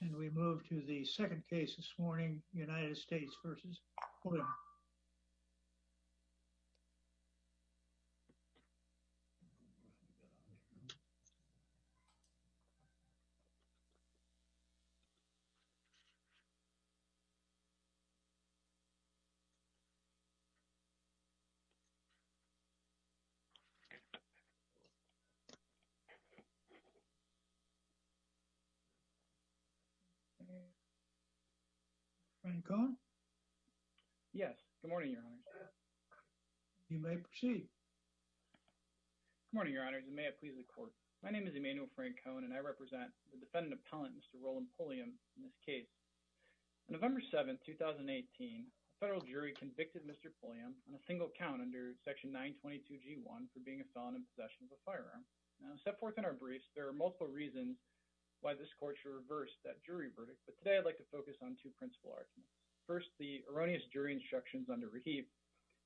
And we move to the second case this morning, United States versus Franco? Yes. Good morning, Your Honor. You may proceed. Good morning, Your Honor. May I please the court. My name is Emmanuel Franco and I represent the defendant appellant Mr. Roland Pulliam in this case. On November 7, 2018, a federal jury convicted Mr. Pulliam on a single count under section 922G1 for being a felon in possession of a firearm. Now, set forth in our briefs, there are multiple reasons why this court should reverse that jury verdict. But today, I'd like to focus on two principal arguments. First, the erroneous jury instructions under Rahib.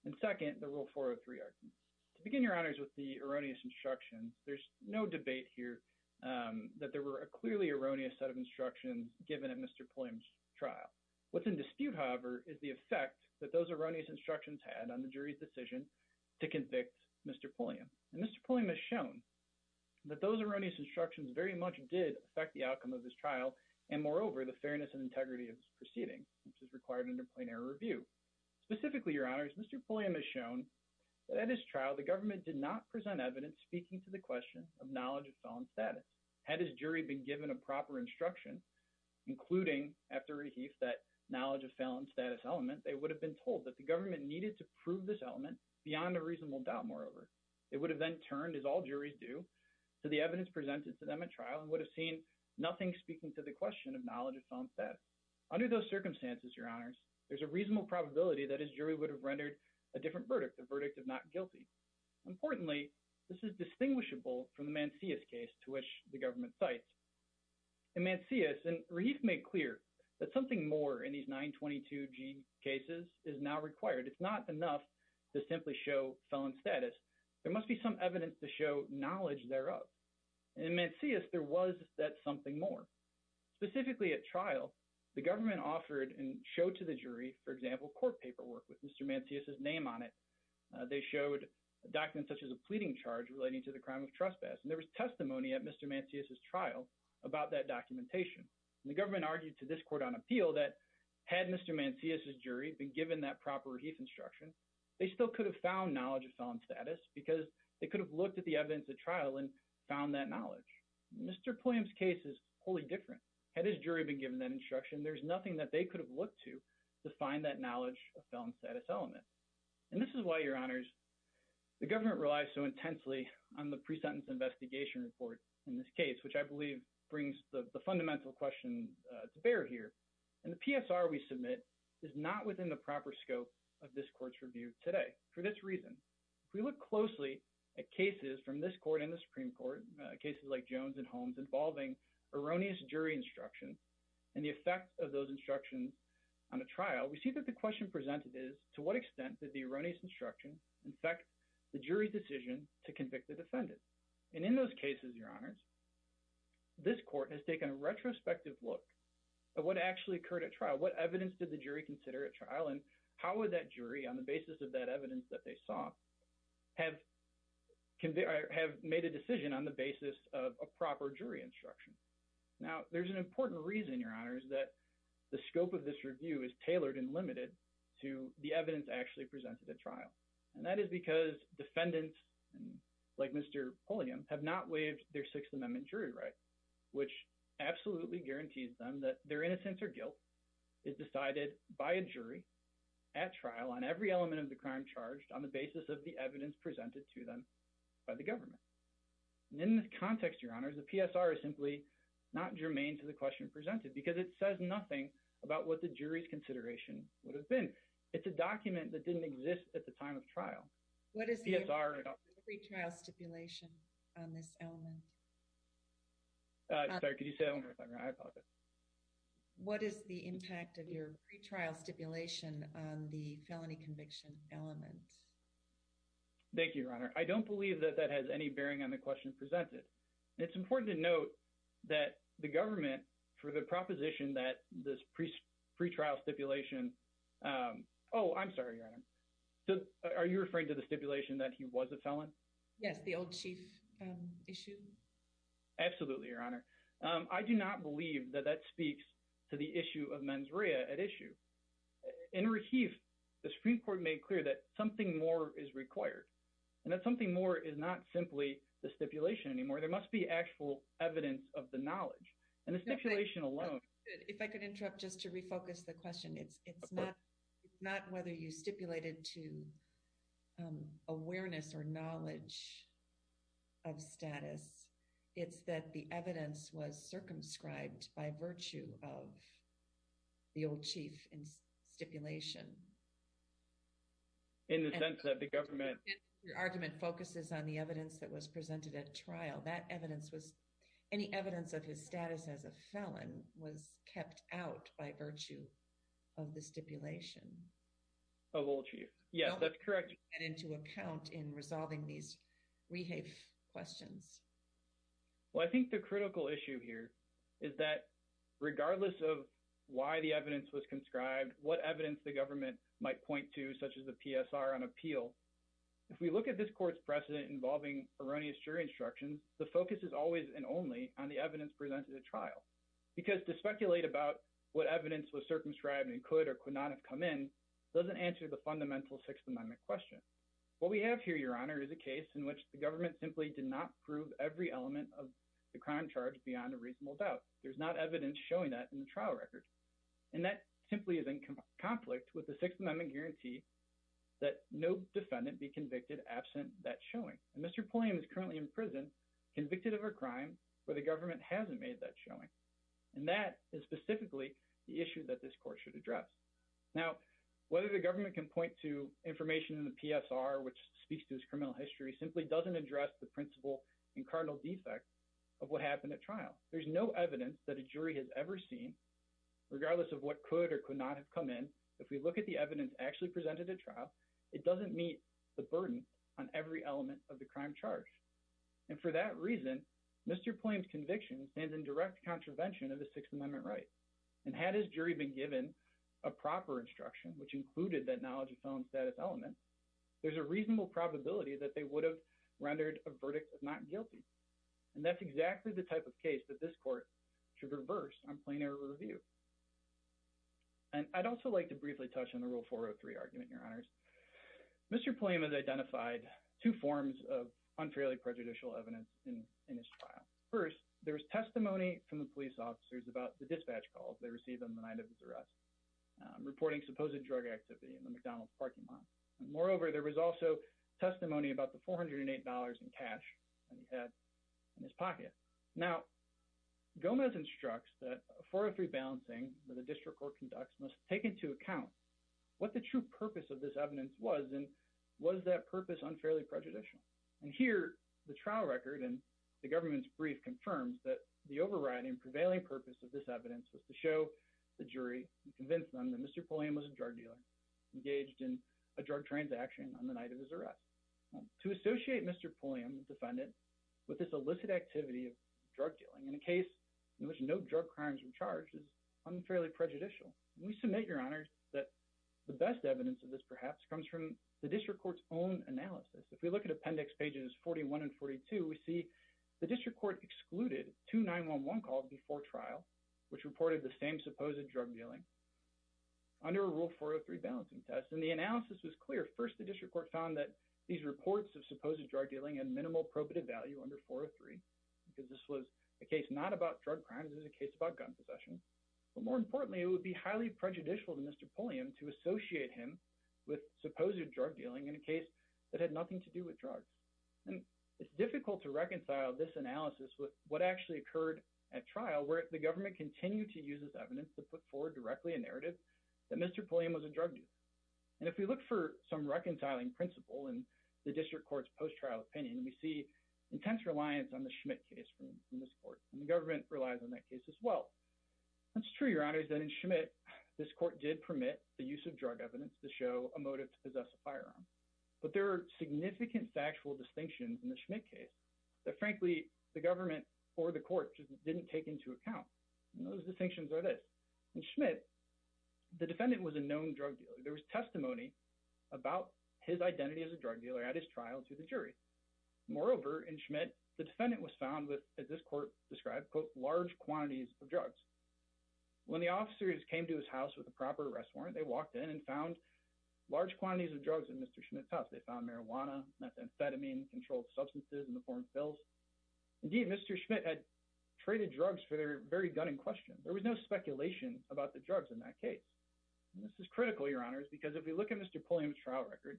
And second, the Rule 403 argument. To begin, Your Honors, with the erroneous instructions, there's no debate here that there were a clearly erroneous set of instructions given at Mr. Pulliam's trial. What's in dispute, however, is the effect that those erroneous instructions had on the jury's decision to convict Mr. Pulliam. And Mr. Pulliam has shown that those erroneous instructions very much did affect the outcome of his trial, and moreover, the fairness and integrity of his proceedings, which is required under plain error review. Specifically, Your Honors, Mr. Pulliam has shown that at his trial, the government did not present evidence speaking to the question of knowledge of felon status. Had his jury been given a proper instruction, including, after Rahib, that knowledge of felon status element, they would have been told that the government needed to prove this element beyond a reasonable doubt, moreover. It would have then turned, as all juries do, to the evidence presented to them at trial and would have seen nothing speaking to the question of knowledge of felon status. Under those circumstances, Your Honors, there's a reasonable probability that his jury would have rendered a different verdict, the verdict of not guilty. Importantly, this is distinguishable from the Mancius case to which the government cites. In Mancius, and Rahib made clear that something more in these 922G cases is now required. It's not enough to simply show felon status. There must be some evidence to show knowledge thereof. In Mancius, there was that something more. Specifically at trial, the government offered and showed to the jury, for example, court paperwork with Mr. Mancius' name on it. They showed a document such as a pleading charge relating to the crime of trespass, and there was testimony at Mr. Mancius' trial about that documentation. The government argued to this court on appeal that had Mr. Mancius' jury been given that proper Rahib instruction, they still could have found knowledge of felon status because they could have looked at the evidence at trial and found that knowledge. Mr. Pulliam's case is wholly different. Had his jury been given that instruction, there's nothing that they could have looked to to find that knowledge of felon status element. And this is why, Your Honors, the government relies so intensely on the pre-sentence investigation report in this case, which I believe brings the fundamental question to bear here, and the PSR we submit is not within the proper scope of this court's review today. For this reason, if we look closely at cases from this court and the Supreme Court, cases like Jones and Holmes, involving erroneous jury instruction and the effect of those instructions on a trial, we see that the question presented is, to what extent did the erroneous instruction affect the jury's decision to convict the defendant? And in those cases, Your Honors, this court has taken a retrospective look at what actually occurred at trial. What evidence did the jury consider at trial and how would that jury, on the basis of that evidence that they saw, have made a decision on the basis of a proper jury instruction? Now, there's an important reason, Your Honors, that the scope of this review is tailored and limited to the evidence actually presented at trial. And that is because defendants, like Mr. Pulliam, have not waived their six amendment jury right, which absolutely guarantees them that their innocence or guilt is decided by a jury at trial on every element of the crime charged on the basis of the evidence presented to them by the government. And in this context, Your Honors, the PSR is simply not germane to the question presented because it says nothing about what the jury's consideration would have been. It's a document that didn't exist at the time of trial. What is the PSR? Pre-trial stipulation on this element? Sorry, could you say that one more time? I apologize. What is the impact of your pre-trial stipulation on the felony conviction element? Thank you, Your Honor. I don't believe that that has any bearing on the question presented. It's important to note that the government, for the proposition that this pre-trial stipulation, um, oh, I'm sorry, Your Honor. Are you referring to the stipulation that he was a felon? Yes, the old chief issue. Absolutely, Your Honor. I do not believe that that speaks to the issue of mens rea at issue. In receive, the Supreme Court made clear that something more is required and that something more is not simply the stipulation anymore. There must be actual evidence of the knowledge and the stipulation alone. If I could interrupt just to refocus the question. It's not whether you stipulated to awareness or knowledge of status. It's that the evidence was circumscribed by virtue of the old chief in stipulation. In the sense that the government... Your argument focuses on the evidence that was presented at trial. That evidence was... Kept out by virtue of the stipulation. Of old chief. Yes, that's correct. And into account in resolving these rehave questions. Well, I think the critical issue here is that regardless of why the evidence was conscribed, what evidence the government might point to, such as the PSR on appeal. If we look at this court's precedent involving erroneous jury instructions, the focus is always and only on the evidence presented at trial. Because to speculate about what evidence was circumscribed and could or could not have come in doesn't answer the fundamental Sixth Amendment question. What we have here, Your Honor, is a case in which the government simply did not prove every element of the crime charge beyond a reasonable doubt. There's not evidence showing that in the trial record. And that simply is in conflict with the Sixth Amendment guarantee that no defendant be convicted absent that showing. And Mr. Pulliam is currently in prison, convicted of a crime where the government hasn't made that showing. And that is specifically the issue that this court should address. Now, whether the government can point to information in the PSR, which speaks to his criminal history, simply doesn't address the principle and cardinal defect of what happened at trial. There's no evidence that a jury has ever seen, regardless of what could or could not have come in. If we look at the evidence actually presented at trial, it doesn't meet the burden on every element of the crime charge. And for that reason, Mr. Pulliam's conviction stands in direct contravention of the Sixth Amendment right. And had his jury been given a proper instruction, which included that knowledge of felon status element, there's a reasonable probability that they would have rendered a verdict of not guilty. And that's exactly the type of case that this court should reverse on plain error review. And I'd also like to briefly touch on the Rule 403 argument, Your Honors. Mr. Pulliam has identified two forms of unfairly prejudicial evidence in his trial. First, there was testimony from the police officers about the dispatch calls they received on the night of his arrest, reporting supposed drug activity in the McDonald's parking lot. Moreover, there was also testimony about the $408 in cash that he had in his pocket. Now, Gomez instructs that a 403 balancing that a district court conducts must take into account what the true purpose of this evidence was, and was that purpose unfairly prejudicial? And here, the trial record and the government's brief confirms that the overriding prevailing purpose of this evidence was to show the jury and convince them that Mr. Pulliam was a drug dealer engaged in a drug transaction on the night of his arrest. To associate Mr. Pulliam, the defendant, with this illicit activity of drug dealing in a case in which no drug crimes were charged is the best evidence of this perhaps comes from the district court's own analysis. If we look at appendix pages 41 and 42, we see the district court excluded 2911 call before trial, which reported the same supposed drug dealing under a Rule 403 balancing test. And the analysis was clear. First, the district court found that these reports of supposed drug dealing and minimal probative value under 403, because this was a case not about drug crimes, it was a case about gun possession. But more importantly, it would be highly prejudicial to Mr. Pulliam to associate him with supposed drug dealing in a case that had nothing to do with drugs. And it's difficult to reconcile this analysis with what actually occurred at trial, where the government continued to use this evidence to put forward directly a narrative that Mr. Pulliam was a drug dealer. And if we look for some reconciling principle in the district court's post-trial opinion, we see intense reliance on the Schmidt case from this court. And the government relies on that case as well. It's true, Your Honor, that in Schmidt, this court did permit the use of drug evidence to show a motive to possess a firearm. But there are significant factual distinctions in the Schmidt case that, frankly, the government or the court just didn't take into account. And those distinctions are this. In Schmidt, the defendant was a known drug dealer. There was testimony about his identity as a drug dealer at his trial to the jury. Moreover, in Schmidt, the defendant was found with, as this court described, quote, large quantities of drugs. When the officers came to his house with a proper arrest warrant, they walked in and found large quantities of drugs in Mr. Schmidt's house. They found marijuana, methamphetamine, controlled substances in the form of pills. Indeed, Mr. Schmidt had traded drugs for their very gun in question. There was no speculation about the drugs in that case. This is critical, Your Honors, because if we look at Mr. Pulliam's trial record,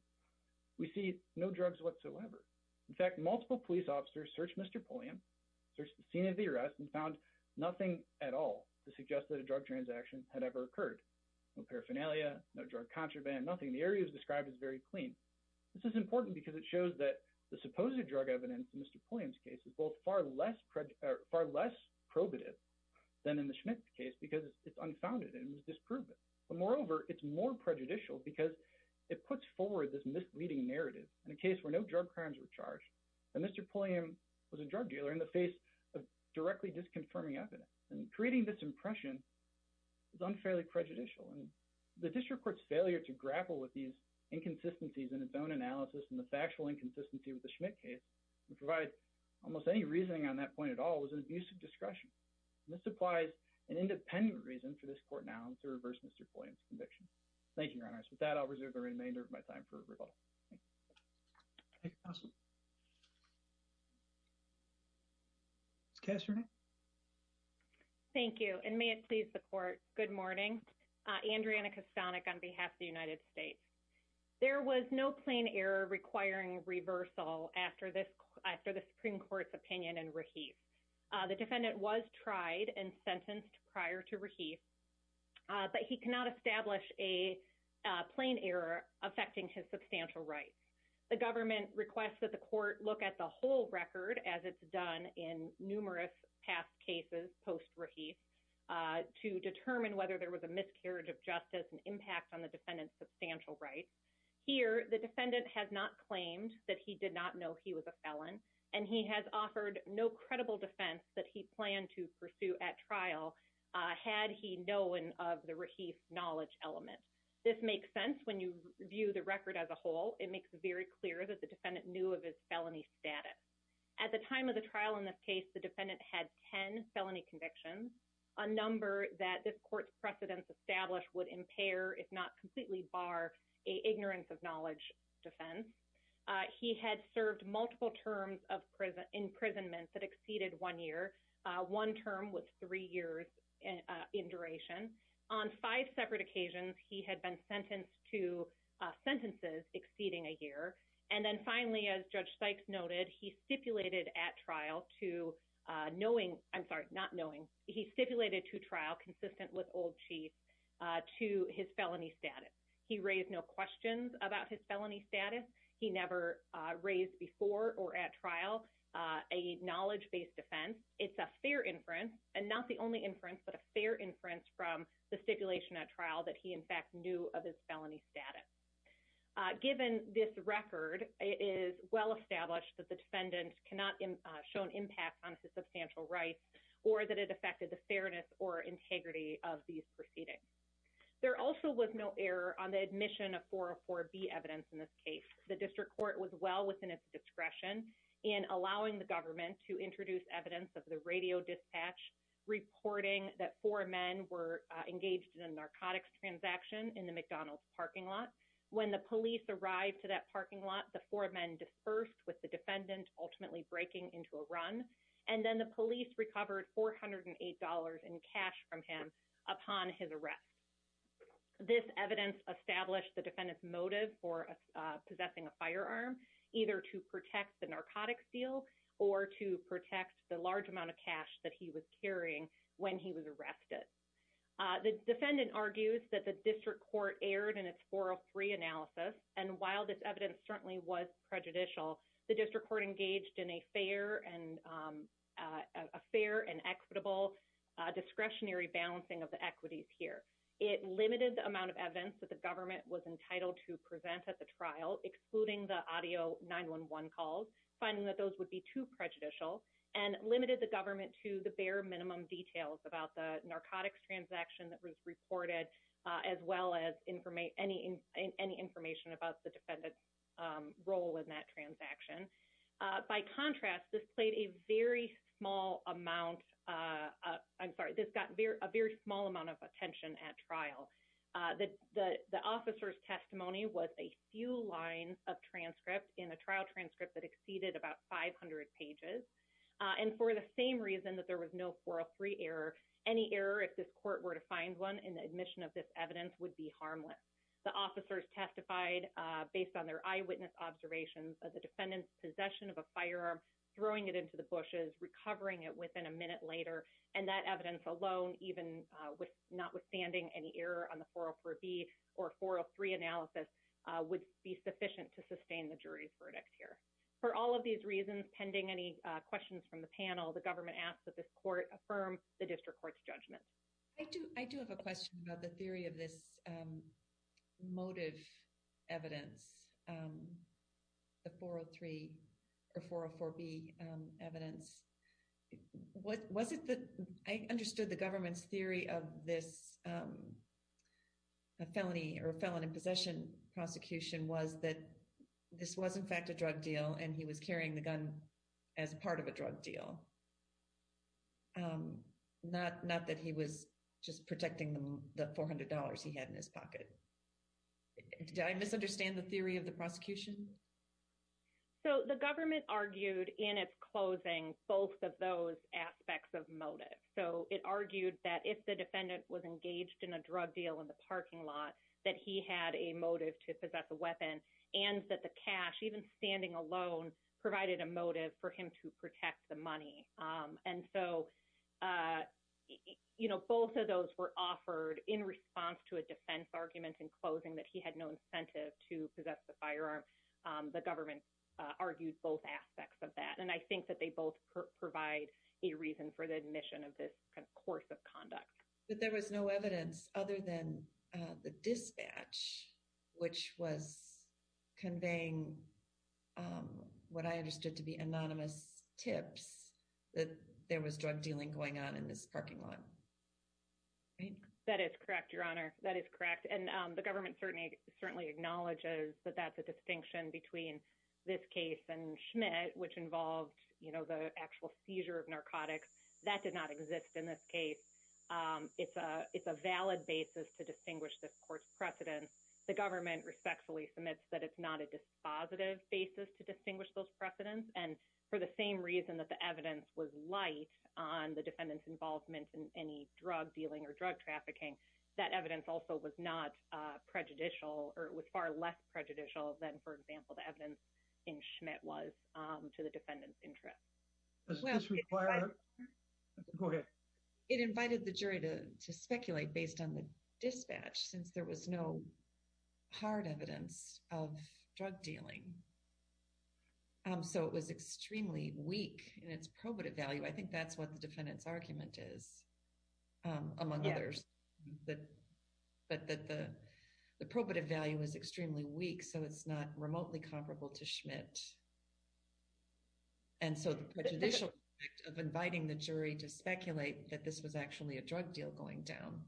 we see no drugs whatsoever. In fact, multiple police officers searched Mr. Pulliam, searched the scene of the arrest, and found nothing at all to suggest that a drug transaction had ever occurred. No paraphernalia, no drug contraband, nothing. The area is described as very clean. This is important because it shows that the supposed drug evidence in Mr. Pulliam's case is both far less probative than in the Schmidt case because it's unfounded and it was disproven. But moreover, it's more prejudicial because it puts forward this misleading narrative in a case where no drug crimes were charged, that Mr. Pulliam was a drug dealer in the face of directly disconfirming evidence. And creating this impression is unfairly prejudicial. And the district court's failure to grapple with these inconsistencies in its own analysis and the factual inconsistency with the Schmidt case, which provides almost any reasoning on that point at all, was an abuse of discretion. And this supplies an independent reason for this court now to reverse Mr. Pulliam's conviction. Thank you, Your Honors. With that, I'll reserve the remainder of my time for rebuttal. Thank you. Thank you. Ms. Kastner? Thank you. And may it please the court, good morning. Andriana Kastanik on behalf of the United States. There was no plain error requiring reversal after the Supreme Court's opinion in post-Rahief. But he cannot establish a plain error affecting his substantial rights. The government requests that the court look at the whole record as it's done in numerous past cases post-Rahief to determine whether there was a miscarriage of justice and impact on the defendant's substantial rights. Here, the defendant has not claimed that he did not know he was a felon. And he has offered no credible defense that he planned to pursue at trial had he known of the Rahief knowledge element. This makes sense when you view the record as a whole. It makes it very clear that the defendant knew of his felony status. At the time of the trial in this case, the defendant had 10 felony convictions, a number that this court's precedents established would impair if not completely bar a ignorance of knowledge defense. He had served multiple terms of imprisonment that exceeded one year. One term was three years in duration. On five separate occasions, he had been sentenced to sentences exceeding a year. And then finally, as Judge Sykes noted, he stipulated at trial to knowing, I'm sorry, not knowing, he stipulated to trial consistent with old chief to his felony status. He raised no questions about his felony status. He never raised before or at trial a knowledge-based defense. It's a fair inference, and not the only inference, but a fair inference from the stipulation at trial that he in fact knew of his felony status. Given this record, it is well established that the defendant cannot show impact on his substantial rights or that it affected the fairness or integrity of these proceedings. There also was no error on the admission of 404B evidence in this case. The district court was well within its discretion in allowing the government to introduce evidence of the radio dispatch reporting that four men were engaged in a narcotics transaction in the McDonald's parking lot. When the police arrived to that parking lot, the four men dispersed with defendant ultimately breaking into a run, and then the police recovered $408 in cash from him upon his arrest. This evidence established the defendant's motive for possessing a firearm, either to protect the narcotics deal or to protect the large amount of cash that he was carrying when he was arrested. The defendant argues that the district court erred in its 403 analysis, and while this evidence certainly was prejudicial, the district court engaged in a fair and equitable discretionary balancing of the equities here. It limited the amount of evidence that the government was entitled to present at the trial, excluding the audio 911 calls, finding that those would be too prejudicial, and limited the government to the bare minimum details about the defendant's role in that transaction. By contrast, this played a very small amount of attention at trial. The officer's testimony was a few lines of transcript in a trial transcript that exceeded about 500 pages, and for the same reason that there was no 403 error, any error if this court were to find one in the admission of this evidence would be harmless. The officers testified based on their eyewitness observations of the defendant's possession of a firearm, throwing it into the bushes, recovering it within a minute later, and that evidence alone, even with notwithstanding any error on the 404B or 403 analysis, would be sufficient to sustain the jury's verdict here. For all of these reasons, pending any questions from the panel, the I do have a question about the theory of this motive evidence, the 403 or 404B evidence. Was it that I understood the government's theory of this a felony or a felon in possession prosecution was that this was in fact a drug deal and he was carrying the gun as part of a drug deal, not that he was just protecting the $400 he had in his pocket? Did I misunderstand the theory of the prosecution? So the government argued in its closing both of those aspects of motive. So it argued that if the defendant was engaged in a drug deal in the parking lot, that he had a motive to possess a weapon, and that the cash, even standing alone, provided a motive for him to protect the money. And so both of those were offered in response to a defense argument in closing that he had no incentive to possess the firearm. The government argued both aspects of that, and I think that they both provide a reason for the admission of this course of conduct. But there was no evidence other than the dispatch, which was conveying what I understood to be anonymous tips that there was drug dealing going on in this parking lot. That is correct, Your Honor. That is correct. And the government certainly acknowledges that that's a distinction between this case and Schmidt, which involved the actual seizure of narcotics. That did not exist in this case. It's a valid basis to distinguish this court's dispositive basis to distinguish those precedents. And for the same reason that the evidence was light on the defendant's involvement in any drug dealing or drug trafficking, that evidence also was not prejudicial, or it was far less prejudicial than, for example, the evidence in Schmidt was to the defendant's interest. Does this require... Go ahead. It invited the jury to speculate based on the dispatch, since there was no hard evidence of drug dealing. So it was extremely weak in its probative value. I think that's what the defendant's argument is, among others, that the probative value is extremely weak, so it's not remotely comparable to Schmidt. And so the prejudicial effect of inviting the jury to speculate that this was actually a drug deal going down.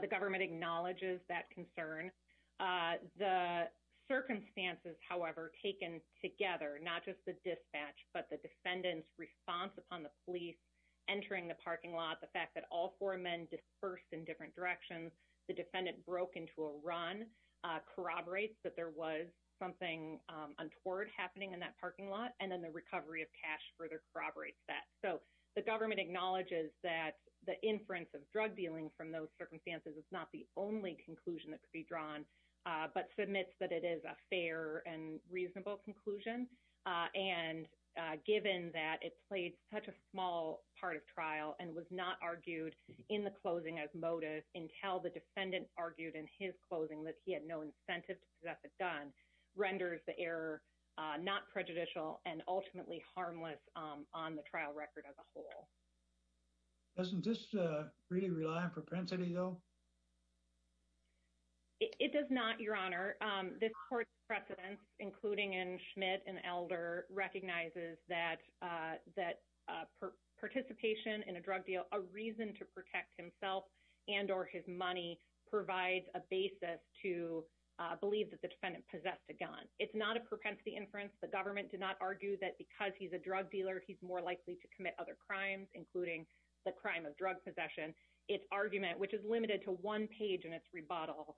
The government acknowledges that concern. The circumstances, however, taken together, not just the dispatch, but the defendant's response upon the police entering the parking lot, the fact that all four men dispersed in different directions, the defendant broke into a run, corroborates that there was something untoward happening in that parking lot, and then the recovery of cash further corroborates that. So the government acknowledges that the inference of drug dealing from those circumstances is not the only conclusion that could be drawn, but submits that it is a fair and reasonable conclusion. And given that it played such a small part of trial and was not argued in the closing as motive until the defendant argued in his closing that he had no incentive to possess a gun, renders the error not prejudicial and ultimately harmless on the trial record as a whole. Doesn't this really rely on propensity, though? It does not, Your Honor. This court's precedents, including in Schmidt and Elder, recognizes that participation in a drug deal, a reason to protect himself and or his money, provides a basis to believe that the defendant possessed a gun. It's not a propensity inference. The government did not argue that because he's a drug dealer, he's more likely to commit other crimes, including the crime of drug possession. Its argument, which is limited to one page in its rebuttal,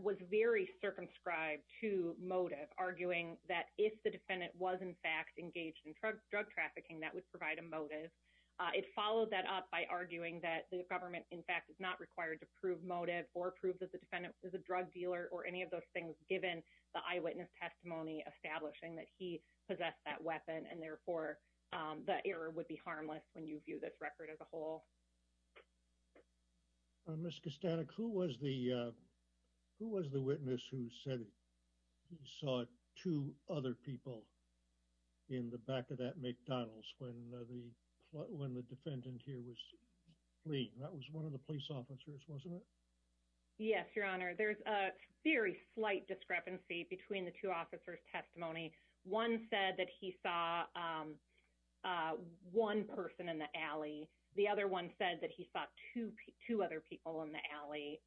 was very circumscribed to motive, arguing that if the defendant was, in fact, engaged in drug trafficking, that would provide a motive. It followed that up by arguing that the government, in fact, is not required to prove motive or prove that the defendant is a drug dealer or any of those things, given the eyewitness testimony establishing that he possessed that weapon and therefore the error would be harmless when you view this record as a whole. Ms. Kostanek, who was the witness who said he saw two other people in the back of that police officer's testimony? Yes, Your Honor. There's a very slight discrepancy between the two officers' testimony. One said that he saw one person in the alley. The other one said that he saw two other people in the alley.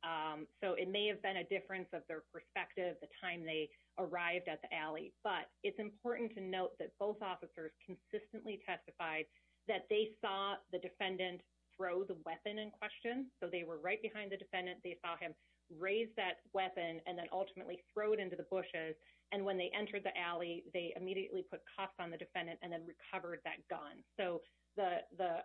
So it may have been a difference of their perspective, the time they arrived at the alley. But it's important to note that both officers consistently testified that they saw the defendant throw the weapon in question. So they were right behind the defendant. They saw him raise that weapon and then ultimately throw it into the bushes. And when they entered the alley, they immediately put cuffs on the defendant and then recovered that gun. So the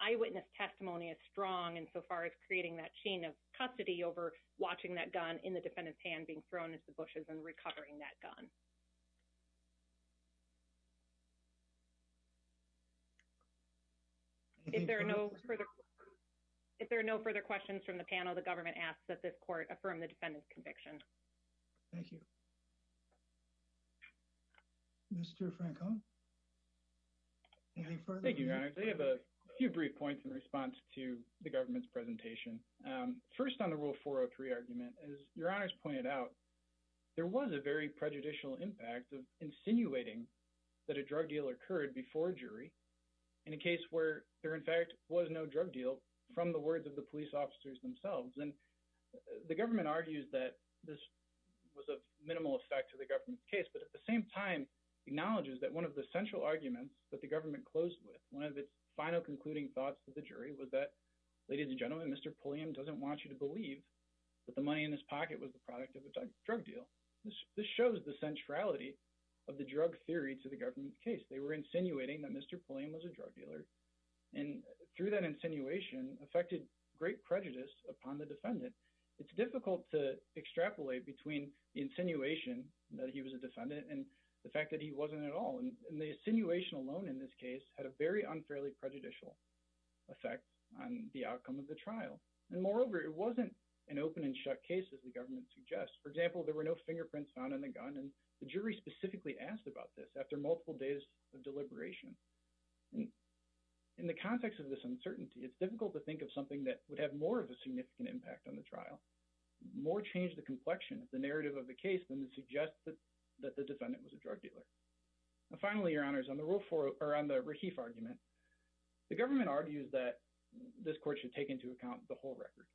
eyewitness testimony is strong insofar as creating that chain of custody over watching that gun in the defendant's hand being thrown into the bushes and recovering that gun. If there are no further questions from the panel, the government asks that this court affirm the defendant's conviction. Thank you. Mr. Franco? Thank you, Your Honor. I have a few brief points in response to the government's presentation. First on the Rule 403 argument, as Your Honor's pointed out, there was a very prejudicial impact of insinuating that a drug deal occurred before a jury in a case where there in fact was no drug deal from the words of the police officers themselves. And the government argues that this was of minimal effect to the government's case, but at the same time acknowledges that one of the central arguments that the government closed with, one of its final concluding thoughts to the jury was that, ladies and gentlemen, Mr. Pulliam doesn't want you to believe that the of the drug theory to the government's case. They were insinuating that Mr. Pulliam was a drug dealer and through that insinuation affected great prejudice upon the defendant. It's difficult to extrapolate between the insinuation that he was a defendant and the fact that he wasn't at all. And the insinuation alone in this case had a very unfairly prejudicial effect on the outcome of the trial. And moreover, it wasn't an open and shut case as the government suggests. For example, there were no fingerprints found in the gun and the jury specifically asked about this after multiple days of deliberation. In the context of this uncertainty, it's difficult to think of something that would have more of a significant impact on the trial, more change the complexion of the narrative of the case than to suggest that the defendant was a drug dealer. And finally, your honors, on the Rahif argument, the government argues that this court should take into account the whole record.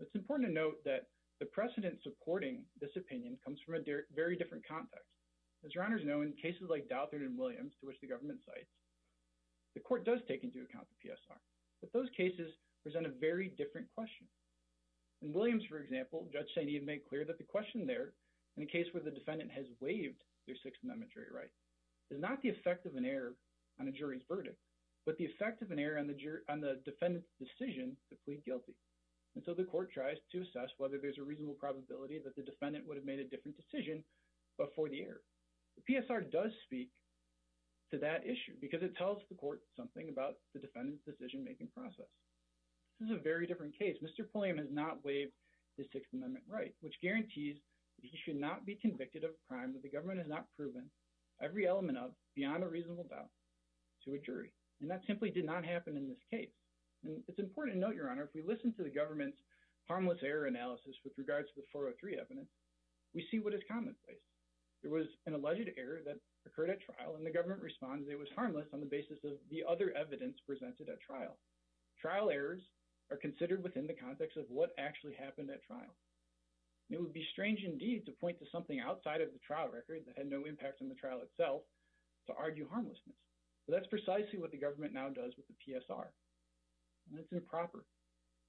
It's important to note that the precedent supporting this opinion comes from a very different context. As your honors know, in cases like Douthat and Williams, to which the government cites, the court does take into account the PSR, but those cases present a very different question. In Williams, for example, Judge Sainee made clear that the question there in a case where the defendant has waived their Sixth Amendment jury right is not the effect of an error on a jury's defendant's decision to plead guilty. And so the court tries to assess whether there's a reasonable probability that the defendant would have made a different decision before the error. The PSR does speak to that issue because it tells the court something about the defendant's decision-making process. This is a very different case. Mr. Pulliam has not waived his Sixth Amendment right, which guarantees that he should not be convicted of a crime that the government has not proven every element of, beyond a reasonable doubt, to a jury. And that simply did not happen in this case. And it's important to note, your honor, if we listen to the government's harmless error analysis with regards to the 403 evidence, we see what is commonplace. It was an alleged error that occurred at trial and the government responds it was harmless on the basis of the other evidence presented at trial. Trial errors are considered within the context of what actually happened at trial. It would be strange indeed to point to something outside of the trial record that had no impact on the trial itself to argue harmlessness. But that's precisely what the government now does with the PSR. And it's improper.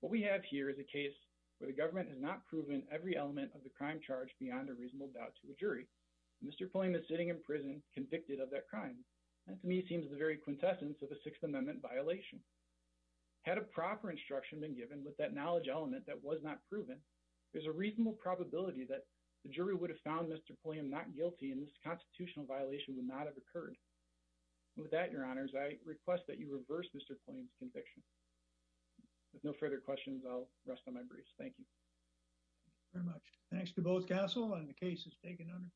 What we have here is a case where the government has not proven every element of the crime charge beyond a reasonable doubt to a jury. Mr. Pulliam is sitting in prison convicted of that crime. That to me seems the very quintessence of a Sixth Amendment violation. Had a proper instruction been given with that knowledge element that was not proven, there's a reasonable probability that the jury would have found Mr. Pulliam not guilty and this constitutional violation would not have occurred. With that, your honors, I request that you reverse Mr. Pulliam's conviction. With no further questions, I'll rest on my brace. Thank you. Very much. Thanks to both Castle and the case is taken under.